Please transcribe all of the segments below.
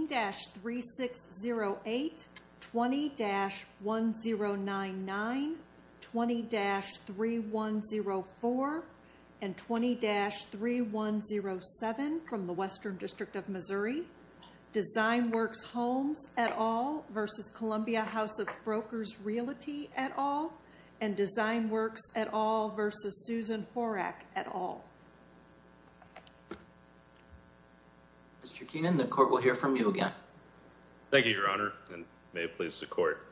20-3608, 20-1099, 20-3104, and 20-3107 from the Western District of Missouri, DesignWorks Holmes et al. versus Columbia House of Brokers Realty et al., and DesignWorks et al. versus Susan Horak et al. Mr. Keenan, the court will hear from you again. Thank you, Your Honor, and may it please the court.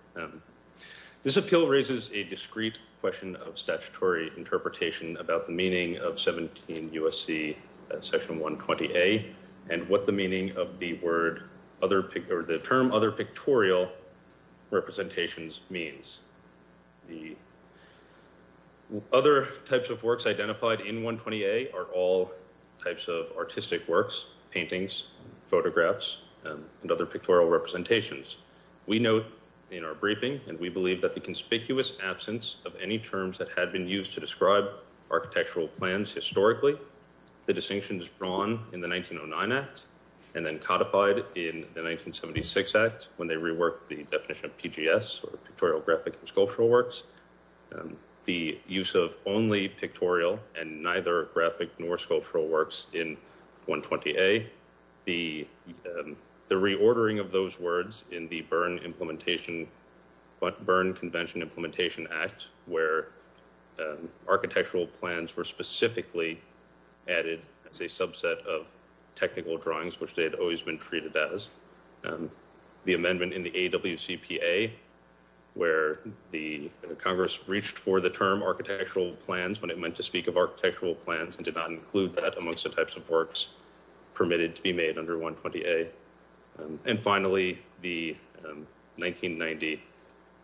This appeal raises a discrete question of statutory interpretation about the meaning of 17 U.S.C. § 120a and what the meaning of the term other pictorial representations means. The other types of works identified in 120a are all types of artistic works, paintings, photographs, and other pictorial representations. We note in our briefing, and we believe that the conspicuous absence of any terms that had been used to describe architectural plans historically, the distinctions drawn in the 1909 Act and then codified in the 1976 Act when they reworked the definition of PGS, or Pictorial Graphic and Sculptural Works, the use of only pictorial and neither graphic nor sculptural works in 120a, the reordering of those words in the Byrne Convention Implementation Act where architectural plans were specifically added as a subset of technical drawings, which they had always been treated as. The amendment in the AWCPA where the Congress reached for the term architectural plans when it meant to speak of architectural plans and did not include that amongst the types of works permitted to be made under 120a. And finally, the 1990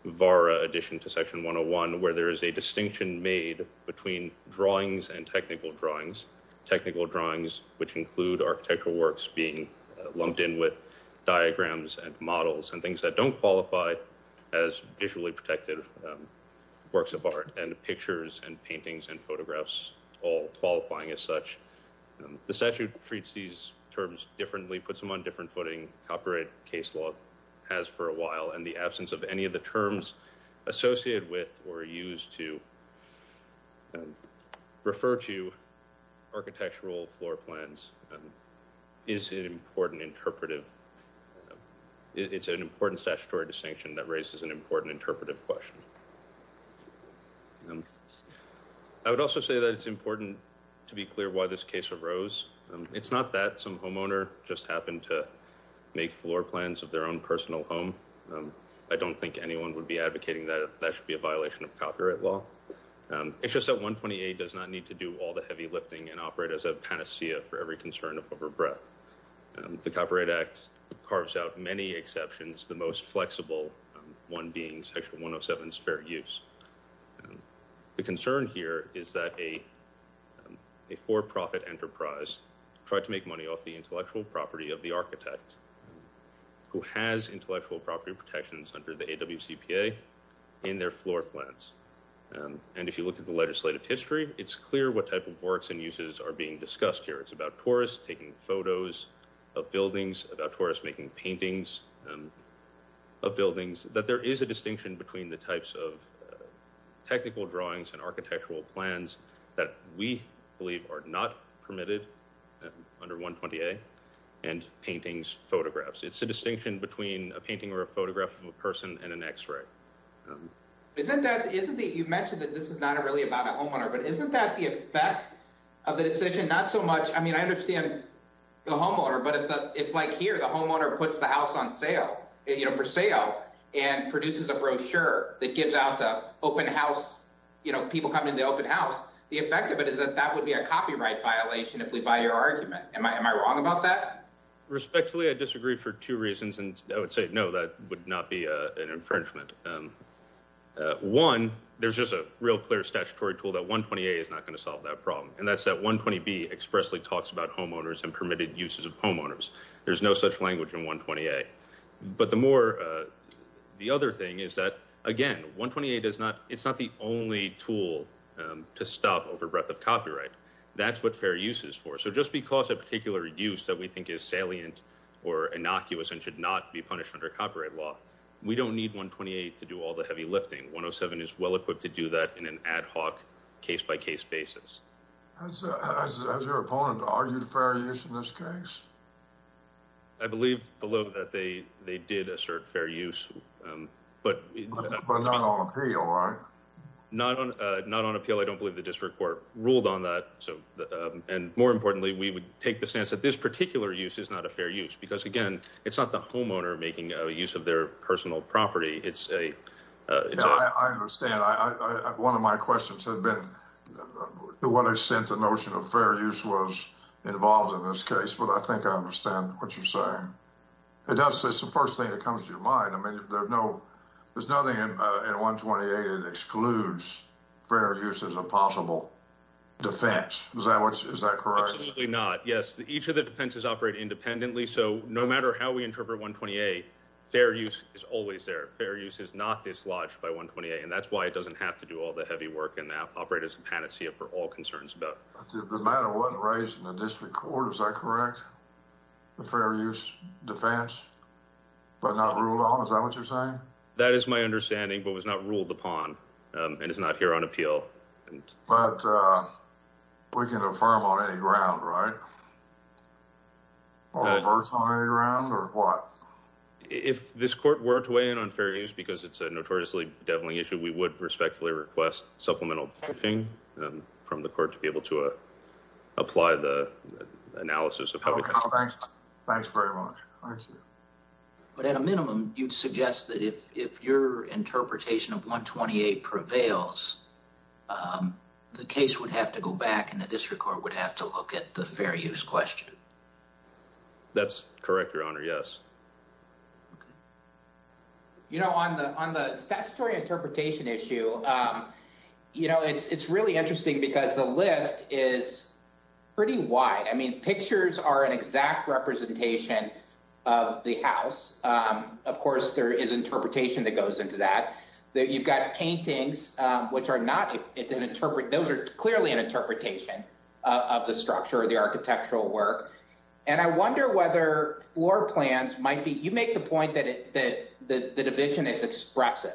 VARA addition to section 101 where there is a distinction made between drawings and technical drawings, technical drawings which include architectural works being lumped in with diagrams and models and things that don't qualify as visually protected works of art and pictures and paintings and photographs all qualifying as such. The statute treats these terms differently, puts them on different footing, copyright case law has for a while, and the absence of any of the terms associated with or used to refer to architectural floor plans is an important interpretive, it's an important statutory distinction that raises an important interpretive question. I would also say that it's important to be clear why this case arose. It's not that some homeowner just happened to make floor plans of their own personal home. I don't think anyone would be advocating that that should be a violation of copyright law. It's just that 128 does not need to do all the heavy lifting and operate as a panacea for every concern of over breadth. The Copyright Act carves out many exceptions, the most flexible one being section 107's fair use. The concern here is that a for profit enterprise tried to make money off the intellectual property of the architect who has intellectual property protections under the AWCPA in their floor plans. And if you look at the legislative history, it's clear what type of works and uses are being discussed here. It's about tourists taking photos of buildings, about tourists making paintings of buildings, that there is a distinction between the types of technical drawings and architectural plans that we believe are not permitted under 128 and paintings, photographs. It's a distinction between a painting or a photograph of a person and an x-ray. You mentioned that this is not really about a homeowner, but isn't that the effect of the decision? Not so much. I mean, I understand the homeowner, but if like here, the homeowner puts the house on sale, you know, for sale and produces a brochure that gives out the open house, you know, people coming to the open house, the effect of it is that that would be a copyright violation if we buy your argument. Am I wrong about that? Respectfully, I disagree for two reasons, and I would say no, that would not be an infringement. One, there's just a real clear statutory tool that 120A is not going to solve that problem. And that's that 120B expressly talks about homeowners and permitted uses of homeowners. There's no such language in 120A. But the more, the other thing is that, again, 128 is not, it's not the only tool to stop overbreadth of copyright. That's what fair use is for. So just because a particular use that we think is salient or innocuous and should not be punished under copyright law, we don't need 128 to do all the heavy lifting. 107 is well-equipped to do that in an ad hoc, case-by-case basis. Has your opponent argued fair use in this case? I believe, below, that they did assert fair use, but... But not on appeal, right? Not on appeal. I don't believe the district court ruled on that. And more importantly, we would take the stance that this particular use is not a fair use, because, again, it's not the homeowner making use of their personal property. It's a... Yeah, I understand. One of my questions had been, what I sent, the notion of fair use was involved in this case, but I think I understand what you're saying. It's the first thing that comes to your mind. I mean, there's nothing in 128 that excludes fair use as a possible defense. Is that correct? Absolutely not, yes. Each of the defenses operate independently, so no matter how we interpret 128, fair use is always there. Fair use is not dislodged by 128, and that's why it doesn't have to do all the heavy work and operate as a panacea for all concerns about... The matter wasn't raised in the district court, is that correct? The fair use defense, but not ruled on, is that what you're saying? That is my understanding, but was not ruled upon, and is not here on appeal. But we can affirm on any ground, right? Or reverse on any ground, or what? If this court were to weigh in on fair use, because it's a notoriously deviling issue, we would respectfully request supplemental briefing from the court to be able to apply the analysis of how we... Oh, thanks. Thanks very much. Thank you. But at a minimum, you'd suggest that if your interpretation of 128 prevails, the case would have to go back, and the district court would have to look at the fair use question. That's correct, Your Honor, yes. Okay. You know, on the statutory interpretation issue, it's really interesting, because the list is pretty wide. Pictures are an exact representation of the house. Of course, there is interpretation that goes into that. You've got paintings, which are not... Those are clearly an interpretation of the structure of the architectural work. And I wonder whether floor plans might be... You make the point that the division is expressive.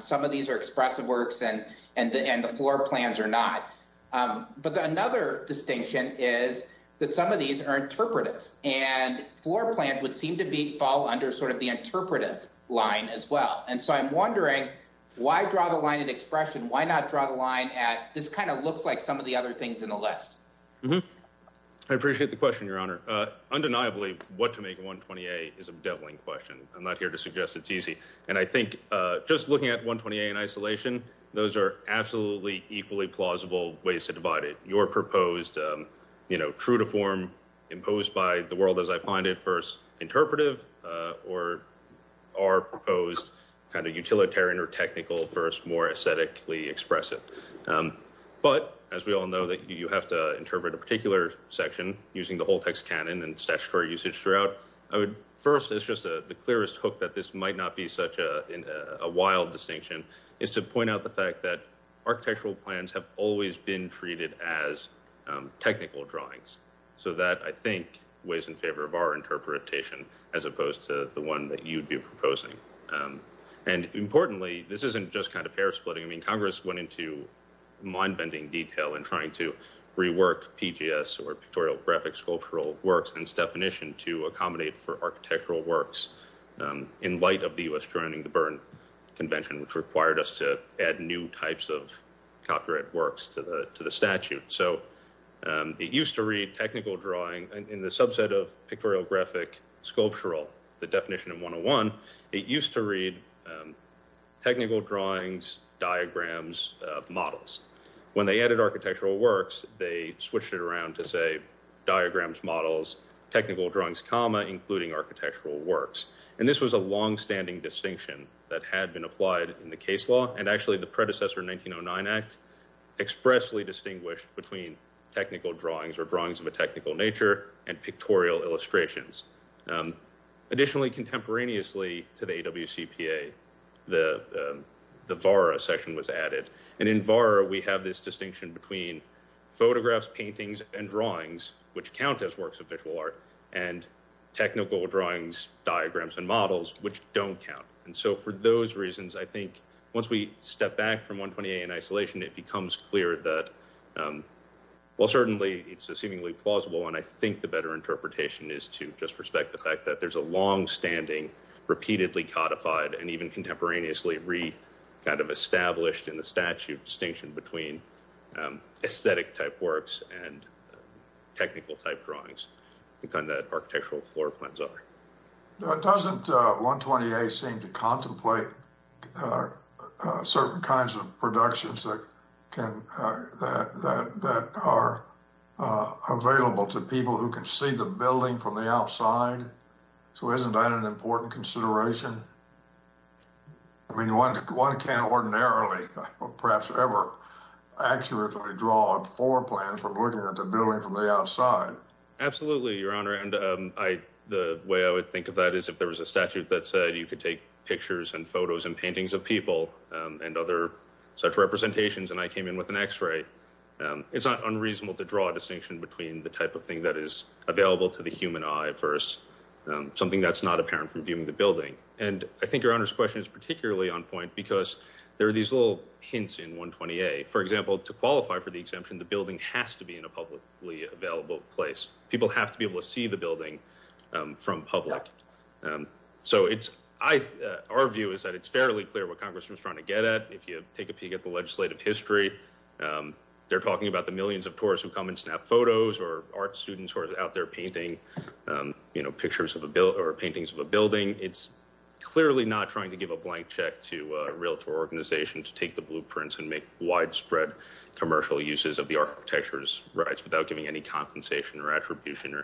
Some of these are expressive works, and the floor plans are not. But another distinction is that some of these are interpretive, and floor plans would seem to fall under sort of the interpretive line as well. And so I'm wondering, why draw the line in expression? Why not draw the line at, this kind of looks like some of the other things in the list? I appreciate the question, Your Honor. Undeniably, what to make of 120A is a deviling question. I'm not here to suggest it's easy. And I think, just looking at 120A in isolation, those are absolutely equally plausible ways to divide it. Your proposed, you know, true to form, imposed by the world as I find it, first interpretive, or our proposed kind of utilitarian or technical, first more aesthetically expressive. But, as we all know, you have to interpret a particular section using the whole text canon and statutory usage throughout. First, it's just the clearest hook that this might not be such a wild distinction, is to point out the fact that architectural plans have always been treated as technical drawings. So that, I think, weighs in favor of our interpretation, as opposed to the one that you'd be proposing. And importantly, this isn't just kind of pair splitting. I mean, Congress went into mind-bending detail in trying to rework PGS, or Pictorial Graphic Sculptural Works, and its definition to accommodate for architectural works, in light of the U.S. joining the Berne Convention, which required us to add new types of copyright works to the statute. So, it used to read technical drawing, in the subset of Pictorial Graphic Sculptural, the definition in 101, it used to read technical drawings, diagrams, models. When they added architectural works, they switched it around to say, diagrams, models, technical drawings, comma, including architectural works. And this was a long-standing distinction that had been applied in the case law, and actually the predecessor 1909 Act expressly distinguished between technical drawings, or drawings of a technical nature, and pictorial illustrations. Additionally, contemporaneously to the AWCPA, the VARA section was added. And in VARA, we have this distinction between photographs, paintings, and drawings, which count as works of visual art, and technical drawings, diagrams, and models, which don't count. And so, for those reasons, I think, once we step back from 128 in isolation, it becomes clear that, while certainly it's a seemingly plausible, and I think the better interpretation is to just respect the fact that there's a long-standing, repeatedly codified, and even contemporaneously re-established in the statute, distinction between aesthetic-type works and technical-type drawings, the kind that architectural floor plans are. Doesn't 128 seem to contemplate certain kinds of productions that are available to people who can see the building from the outside? So isn't that an important consideration? I mean, one can't ordinarily, or perhaps ever, accurately draw a floor plan from looking at the building from the outside. Absolutely, Your Honor, and the way I would think of that is, if there was a statute that said you could take pictures, and photos, and paintings of people, and other such representations, and I came in with an x-ray, it's not unreasonable to draw a distinction between the type of thing that is available to the human eye versus something that's not apparent from viewing the building. And I think Your Honor's question is particularly on point because there are these little hints in 128. For example, to qualify for the exemption, the building has to be in a publicly available place. People have to be able to see the building from public. So our view is that it's fairly clear what Congress was trying to get at. If you take a peek at the legislative history, they're talking about the millions of tourists who come and snap photos, or art students who are out there painting, you know, pictures of a building, or paintings of a building. It's clearly not trying to give a blank check to a realtor organization to take the blueprints and make widespread commercial uses of the architecture's rights without giving any compensation or attribution.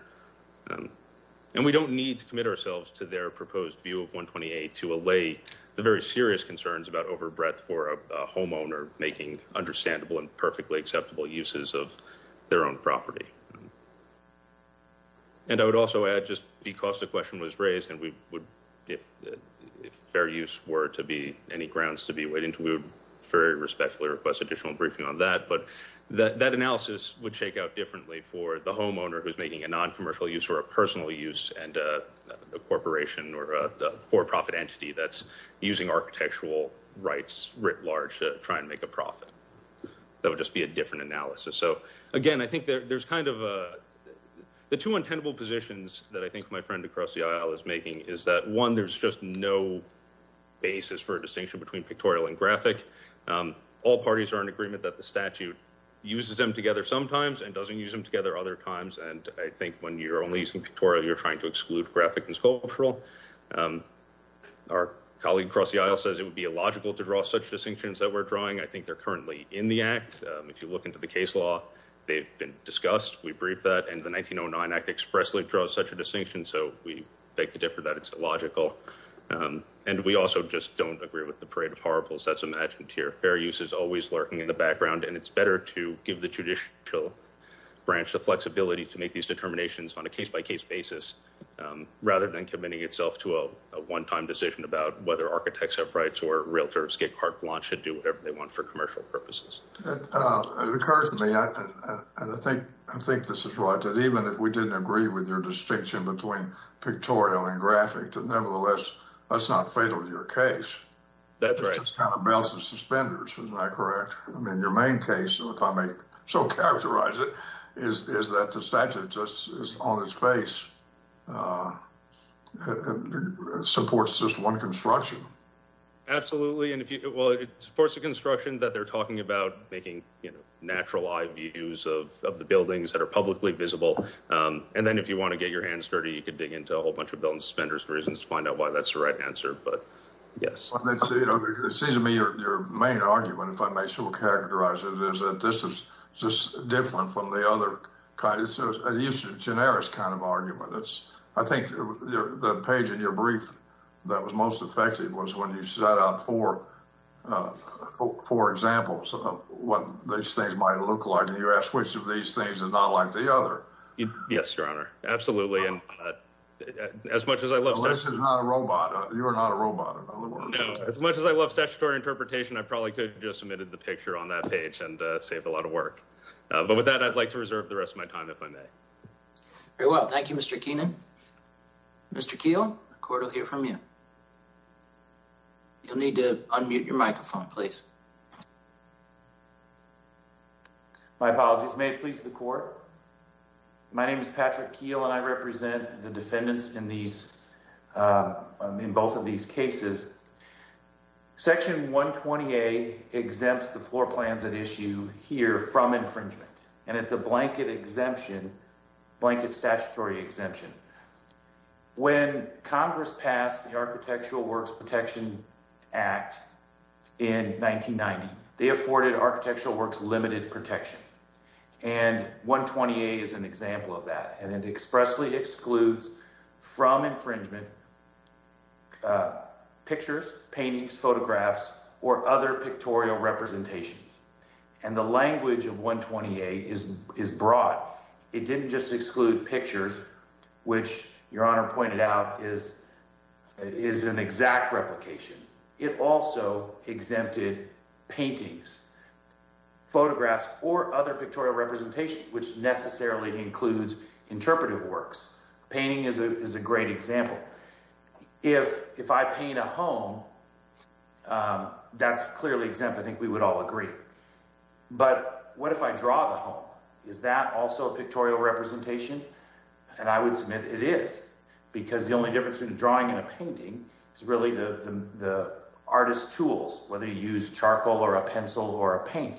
And we don't need to commit ourselves to their proposed view of 128 to allay the very serious concerns about overbreadth for a homeowner making understandable and perfectly acceptable uses of their own property. And I would also add, just because the question was raised, and if fair use were to be any grounds to be weighed into, we would very respectfully request additional briefing on that, but that analysis would shake out differently for the homeowner who's making a noncommercial use or a personal use and a corporation or a for-profit entity that's using architectural rights writ large to try and make a profit. That would just be a different analysis. So, again, I think there's kind of a... The two untenable positions that I think my friend across the aisle is making is that, one, there's just no basis for a distinction between pictorial and graphic. All parties are in agreement that the statute uses them together sometimes and doesn't use them together other times, and I think when you're only using pictorial, you're trying to exclude graphic and sculptural. Our colleague across the aisle says it would be illogical to draw such distinctions that we're drawing. I think they're currently in the Act. If you look into the case law, they've been discussed. We briefed that. And the 1909 Act expressly draws such a distinction, so we beg to differ that it's illogical. And we also just don't agree with the parade of horribles that's imagined here. Fair use is always lurking in the background, and it's better to give the judicial branch the flexibility to make these determinations on a case-by-case basis rather than committing itself to a one-time decision about whether architects have rights or realtors get carte blanche and do whatever they want for commercial purposes. It occurs to me, and I think this is right, that even if we didn't agree with your distinction between pictorial and graphic, nevertheless, that's not fatal to your case. That's right. It just kind of bounces suspenders. Isn't that correct? I mean, your main case, if I may so characterize it, is that the statute just is on its face, supports just one construction. Absolutely. Well, it supports the construction that they're talking about, making natural eye views of the buildings that are publicly visible. And then if you want to get your hands dirty, you could dig into a whole bunch of built-in suspenders for reasons to find out why that's the right answer. But yes. It seems to me your main argument, if I may so characterize it, is that this is just different from the other kind. It's a generic kind of argument. I think the page in your brief that was most effective was when you set out four examples of what these things might look like, and you asked which of these things is not like the other. Yes, Your Honor. Absolutely. And as much as I love— Well, this is not a robot. You are not a robot, in other words. No. As much as I love statutory interpretation, I probably could have just omitted the picture on that page and saved a lot of work. But with that, I'd like to reserve the rest of my time, if I may. Very well. Thank you, Mr. Keenan. Mr. Keel, the court will hear from you. You'll need to unmute your microphone, please. My apologies. May it please the court? My name is Patrick Keel, and I represent the defendants in both of these cases. Section 120A exempts the floor plans at issue here from infringement, and it's a blanket exemption—blanket statutory exemption. When Congress passed the Architectural Works Protection Act in 1990, they afforded Architectural Works limited protection, and 120A is an example of that. And it expressly excludes from infringement pictures, paintings, photographs, or other pictorial representations. And the language of 120A is broad. It didn't just exclude pictures, which Your Honor pointed out is an exact replication. It also exempted paintings, photographs, or other pictorial representations, which necessarily includes interpretive works. Painting is a great example. If I paint a home, that's clearly exempt. I think we would all agree. But what if I draw the home? Is that also a pictorial representation? And I would submit it is, because the only difference between a drawing and a painting is really the artist's tools, whether you use charcoal or a pencil or a paint.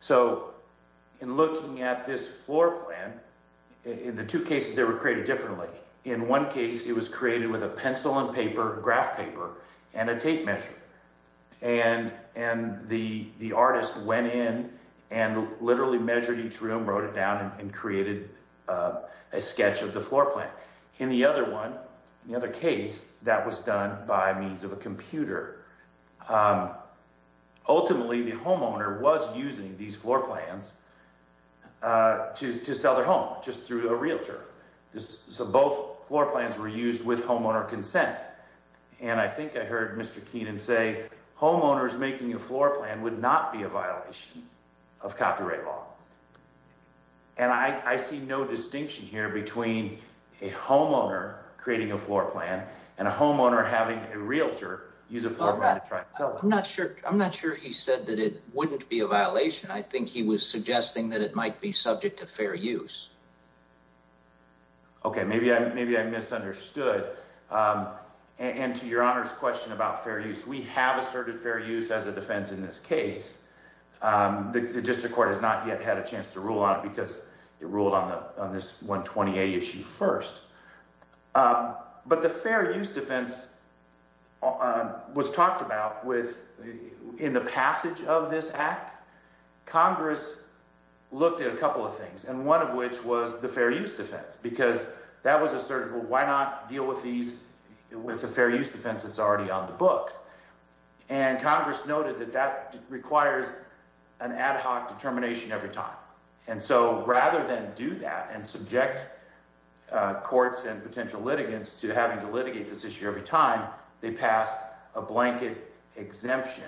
So in looking at this floor plan, in the two cases, they were created differently. In one case, it was created with a pencil and paper, graph paper, and a tape measure. And the artist went in and literally measured each room, wrote it down, and created a sketch of the floor plan. In the other one, the other case, that was done by means of a computer. Ultimately, the homeowner was using these floor plans to sell their home, just through a realtor. So both floor plans were used with homeowner consent. And I think I heard Mr. Keenan say, homeowners making a floor plan would not be a violation of copyright law. And I see no distinction here between a homeowner creating a floor plan and a homeowner having a realtor use a floor plan to try and sell it. I'm not sure he said that it wouldn't be a violation. I think he was suggesting that it might be subject to fair use. Okay, maybe I misunderstood. And to Your Honor's question about fair use, we have asserted fair use as a defense in this case. The district court has not yet had a chance to rule on it because it ruled on this 128 issue first. But the fair use defense was talked about in the passage of this act. Congress looked at a couple of things, and one of which was the fair use defense, because that was asserted. Well, why not deal with the fair use defense that's already on the books? And Congress noted that that requires an ad hoc determination every time. And so rather than do that and subject courts and potential litigants to having to litigate this issue every time, they passed a blanket exemption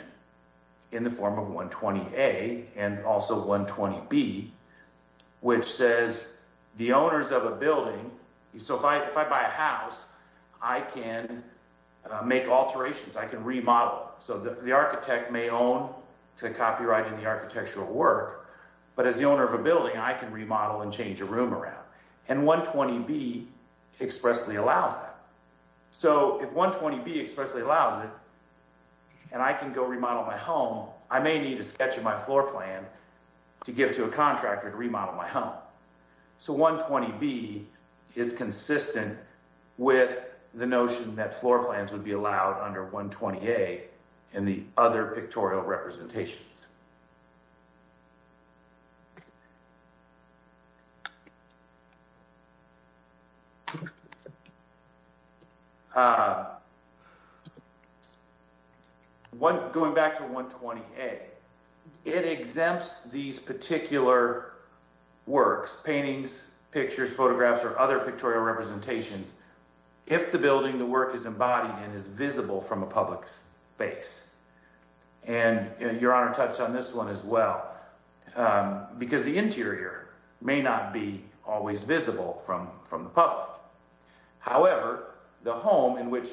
in the form of 120A and also 120B, which says the owners of a building... So if I buy a house, I can make alterations. I can remodel. So the architect may own the copyright in the architectural work, but as the owner of a building, I can remodel and change a room around. And 120B expressly allows that. So if 120B expressly allows it and I can go remodel my home, I may need a sketch of my floor plan to give to a contractor to remodel my home. So 120B is consistent with the notion that floor plans would be allowed under 120A in the other pictorial representations. Going back to 120A, it exempts these particular works, paintings, pictures, photographs, or other pictorial representations, if the building the work is embodied and is visible from a public space. And Your Honor touched on this one as well, because the interior may not be always visible from the public. However, the home in which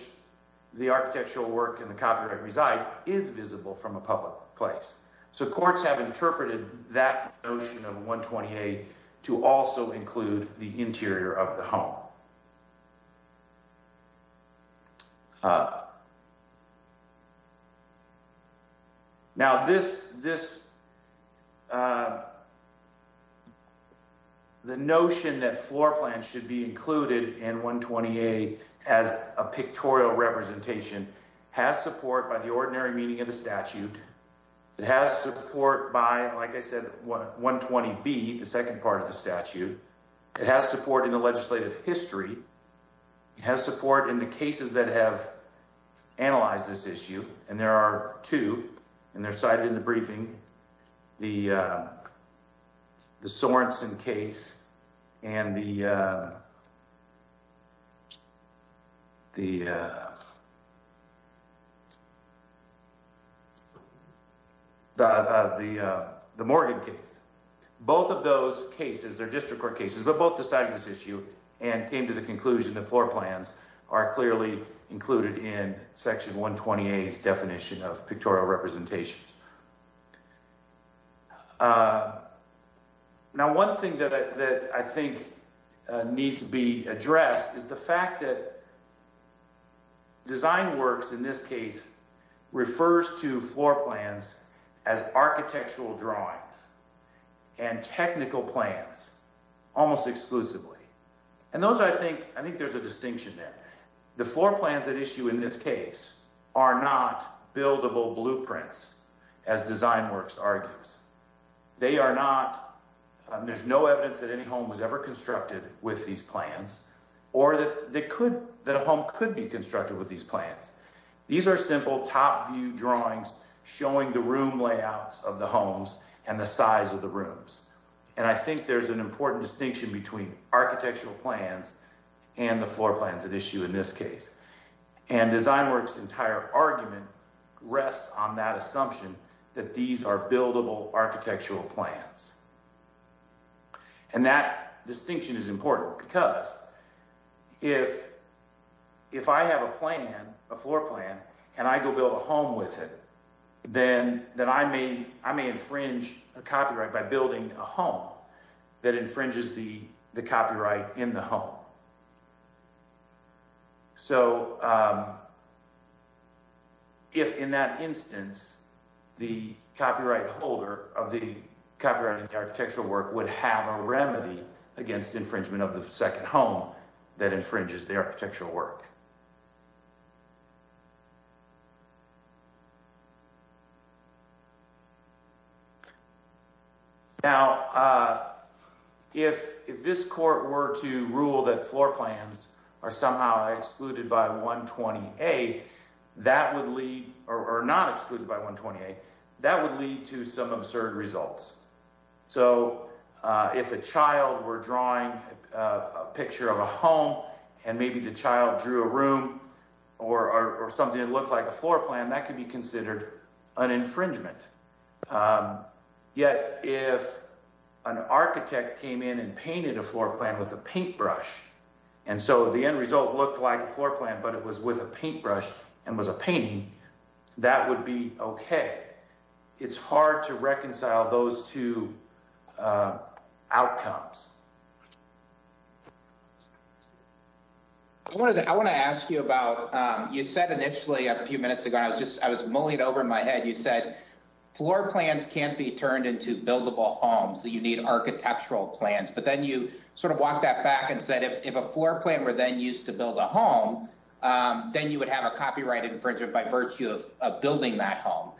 the architectural work and the copyright resides is visible from a public place. So courts have interpreted that notion of 120A to also include the interior of the home. Now, the notion that floor plans should be included in 120A as a pictorial representation has support by the ordinary meaning of the statute. It has support by, like I said, 120B, the second part of the statute. It has support in the legislative history. It has support in the cases that have analyzed this issue. And there are two, and they're cited in the briefing, the Sorenson case and the Morgan case. Both of those cases, they're district court cases, but both decided this issue and came to the conclusion that floor plans are clearly included in Section 120A's definition of pictorial representations. Now, one thing that I think needs to be addressed is the fact that design works, in this case, refers to floor plans as architectural drawings and technical plans, almost exclusively. And those, I think, I think there's a distinction there. The floor plans at issue in this case are not buildable blueprints, as design works argues. They are not, there's no evidence that any home was ever constructed with these plans or that a home could be constructed with these plans. These are simple top view drawings showing the room layouts of the homes and the size of the rooms. And I think there's an important distinction between architectural plans and the floor plans at issue in this case. And design works' entire argument rests on that assumption that these are buildable architectural plans. And that distinction is important because if I have a plan, a floor plan, and I go build a home with it, then I may infringe a copyright by building a home that infringes the copyright in the home. So, if in that instance, the copyright holder of the copyright in the architectural work would have a remedy against infringement of the second home that infringes the architectural work. Now, if this court were to rule that floor plans are somehow excluded by 120A, that would lead, or not excluded by 128, that would lead to some absurd results. So, if a child were drawing a picture of a home and maybe the child drew a room or something that looked like a floor plan, that could be considered an infringement. Yet, if an architect came in and painted a floor plan with a paintbrush, and so the end result looked like a floor plan but it was with a paintbrush and was a painting, that would be okay. It's hard to reconcile those two outcomes. I want to ask you about, you said initially a few minutes ago, I was just mullied over in my head, you said floor plans can't be turned into buildable homes, that you need architectural plans. But then you sort of walked that back and said if a floor plan were then used to build a home, then you would have a copyright infringement by virtue of building that home.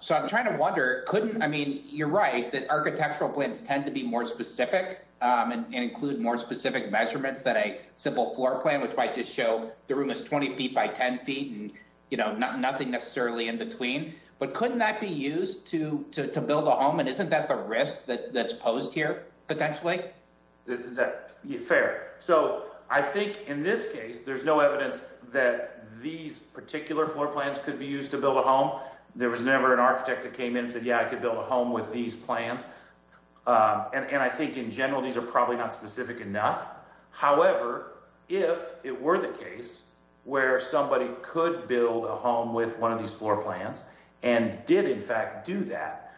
So, I'm trying to wonder, couldn't, I mean, you're right, that architectural plans tend to be more specific and include more specific measurements than a simple floor plan, which might just show the room is 20 feet by 10 feet and, you know, nothing necessarily in between. But couldn't that be used to build a home and isn't that the risk that's posed here, potentially? Fair. So, I think in this case, there's no evidence that these particular floor plans could be used to build a home. There was never an architect that came in and said, yeah, I could build a home with these plans. And I think in general, these are probably not specific enough. However, if it were the case where somebody could build a home with one of these floor plans and did in fact do that,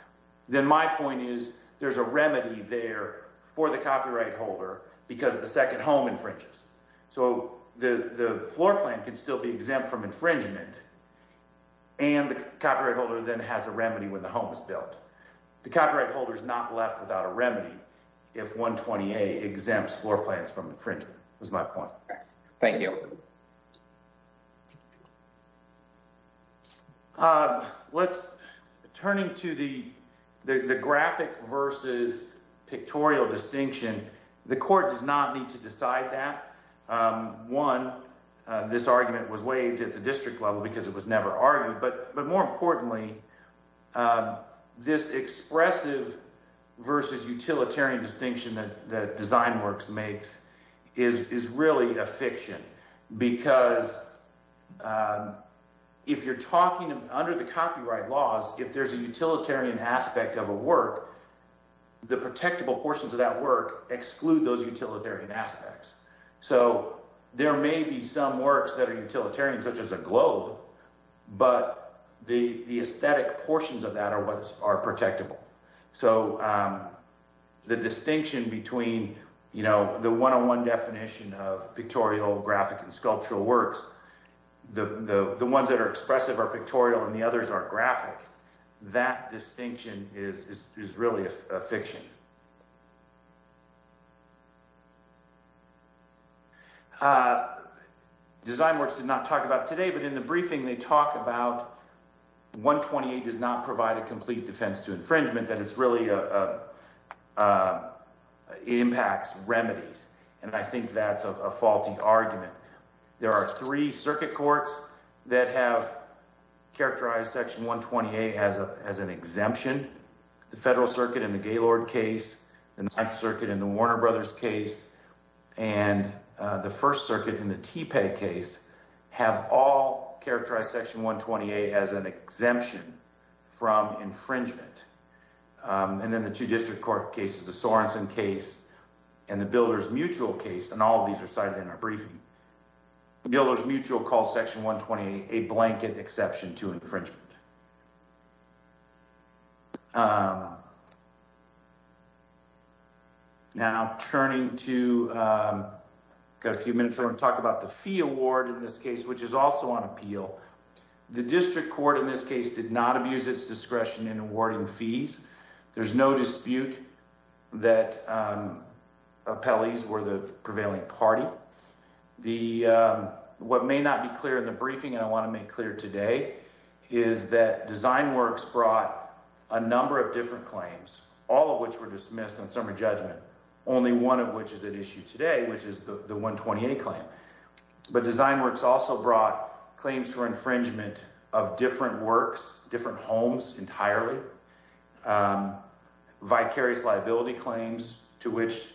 then my point is there's a remedy there for the copyright holder because the second home infringes. So, the floor plan can still be exempt from infringement and the copyright holder then has a remedy when the home is built. The copyright holder is not left without a remedy if 120A exempts floor plans from infringement, is my point. Thank you. Let's turn to the graphic versus pictorial distinction. The court does not need to decide that. One, this argument was waived at the district level because it was never argued. But more importantly, this expressive versus utilitarian distinction that DesignWorks makes is really a fiction because if you're talking under the copyright laws, if there's a utilitarian aspect of a work, the protectable portions of that work exclude those utilitarian aspects. So, there may be some works that are utilitarian such as a globe, but the aesthetic portions of that are what are protectable. So, the distinction between, you know, the one-on-one definition of pictorial, graphic, and sculptural works, the ones that are expressive are pictorial and the others are graphic. That distinction is really a fiction. DesignWorks did not talk about it today, but in the briefing they talk about 128 does not provide a complete defense to infringement, that it really impacts remedies, and I think that's a faulty argument. There are three circuit courts that have characterized Section 128 as an exemption. The Federal Circuit in the Gaylord case, the Ninth Circuit in the Warner Brothers case, and the First Circuit in the Tepe case have all characterized Section 128 as an exemption from infringement. And then the two district court cases, the Sorensen case and the Builders Mutual case, and all of these are cited in our briefing, Builders Mutual calls Section 128 a blanket exception to infringement. Now, turning to, got a few minutes, I want to talk about the fee award in this case, which is also on appeal. The district court in this case did not abuse its discretion in awarding fees. There's no dispute that appellees were the prevailing party. What may not be clear in the briefing, and I want to make clear today, is that DesignWorks brought a number of different claims, all of which were dismissed on summary judgment, only one of which is at issue today, which is the 128 claim. But DesignWorks also brought claims for infringement of different works, different homes entirely, vicarious liability claims to which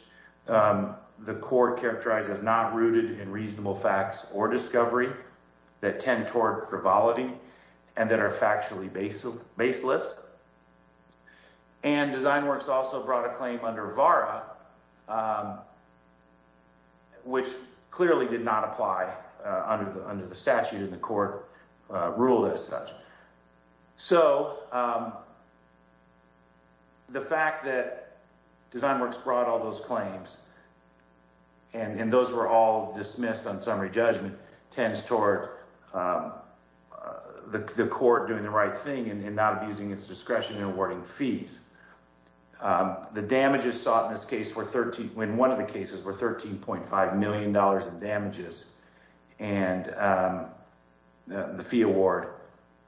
the court characterized as not rooted in reasonable facts or discovery that tend toward frivolity and that are factually baseless. And DesignWorks also brought a claim under VARA, which clearly did not apply under the statute and the court ruled as such. So the fact that DesignWorks brought all those claims and those were all dismissed on summary The damages sought in this case, in one of the cases, were $13.5 million in damages, and the fee award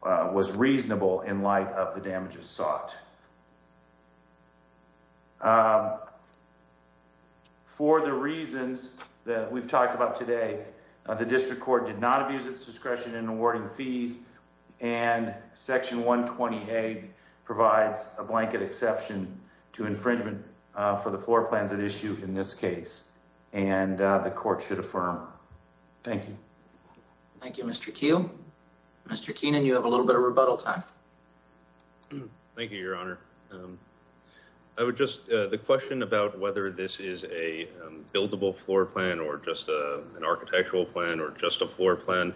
was reasonable in light of the damages sought. For the reasons that we've talked about today, the district court did not abuse its discretion in awarding fees, and Section 128 provides a blanket exception to infringement for the floor plans at issue in this case, and the court should affirm. Thank you. Thank you, Mr. Keel. Mr. Keenan, you have a little bit of rebuttal time. Thank you, Your Honor. I would just, the question about whether this is a buildable floor plan or just an architectural plan or just a floor plan,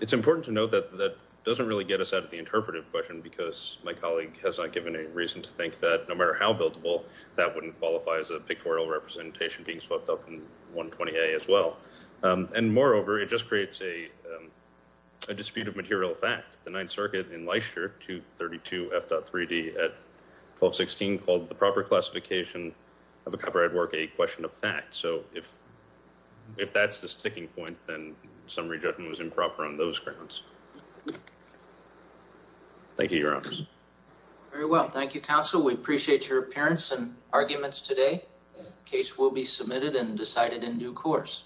it's important to note that that doesn't really get us out of the interpretive question because my colleague has not given any reason to think that no matter how buildable, that wouldn't qualify as a pictorial representation being swept up in 120A as well. And moreover, it just creates a dispute of material fact. The Ninth Circuit in Leicester, 232 F.3d at 1216, called the proper classification of a copyrighted work a question of fact. So if that's the sticking point, then summary judgment was improper on those grounds. Thank you, Your Honors. Very well. Thank you, Counsel. We appreciate your appearance and arguments today. Case will be submitted and decided in due course.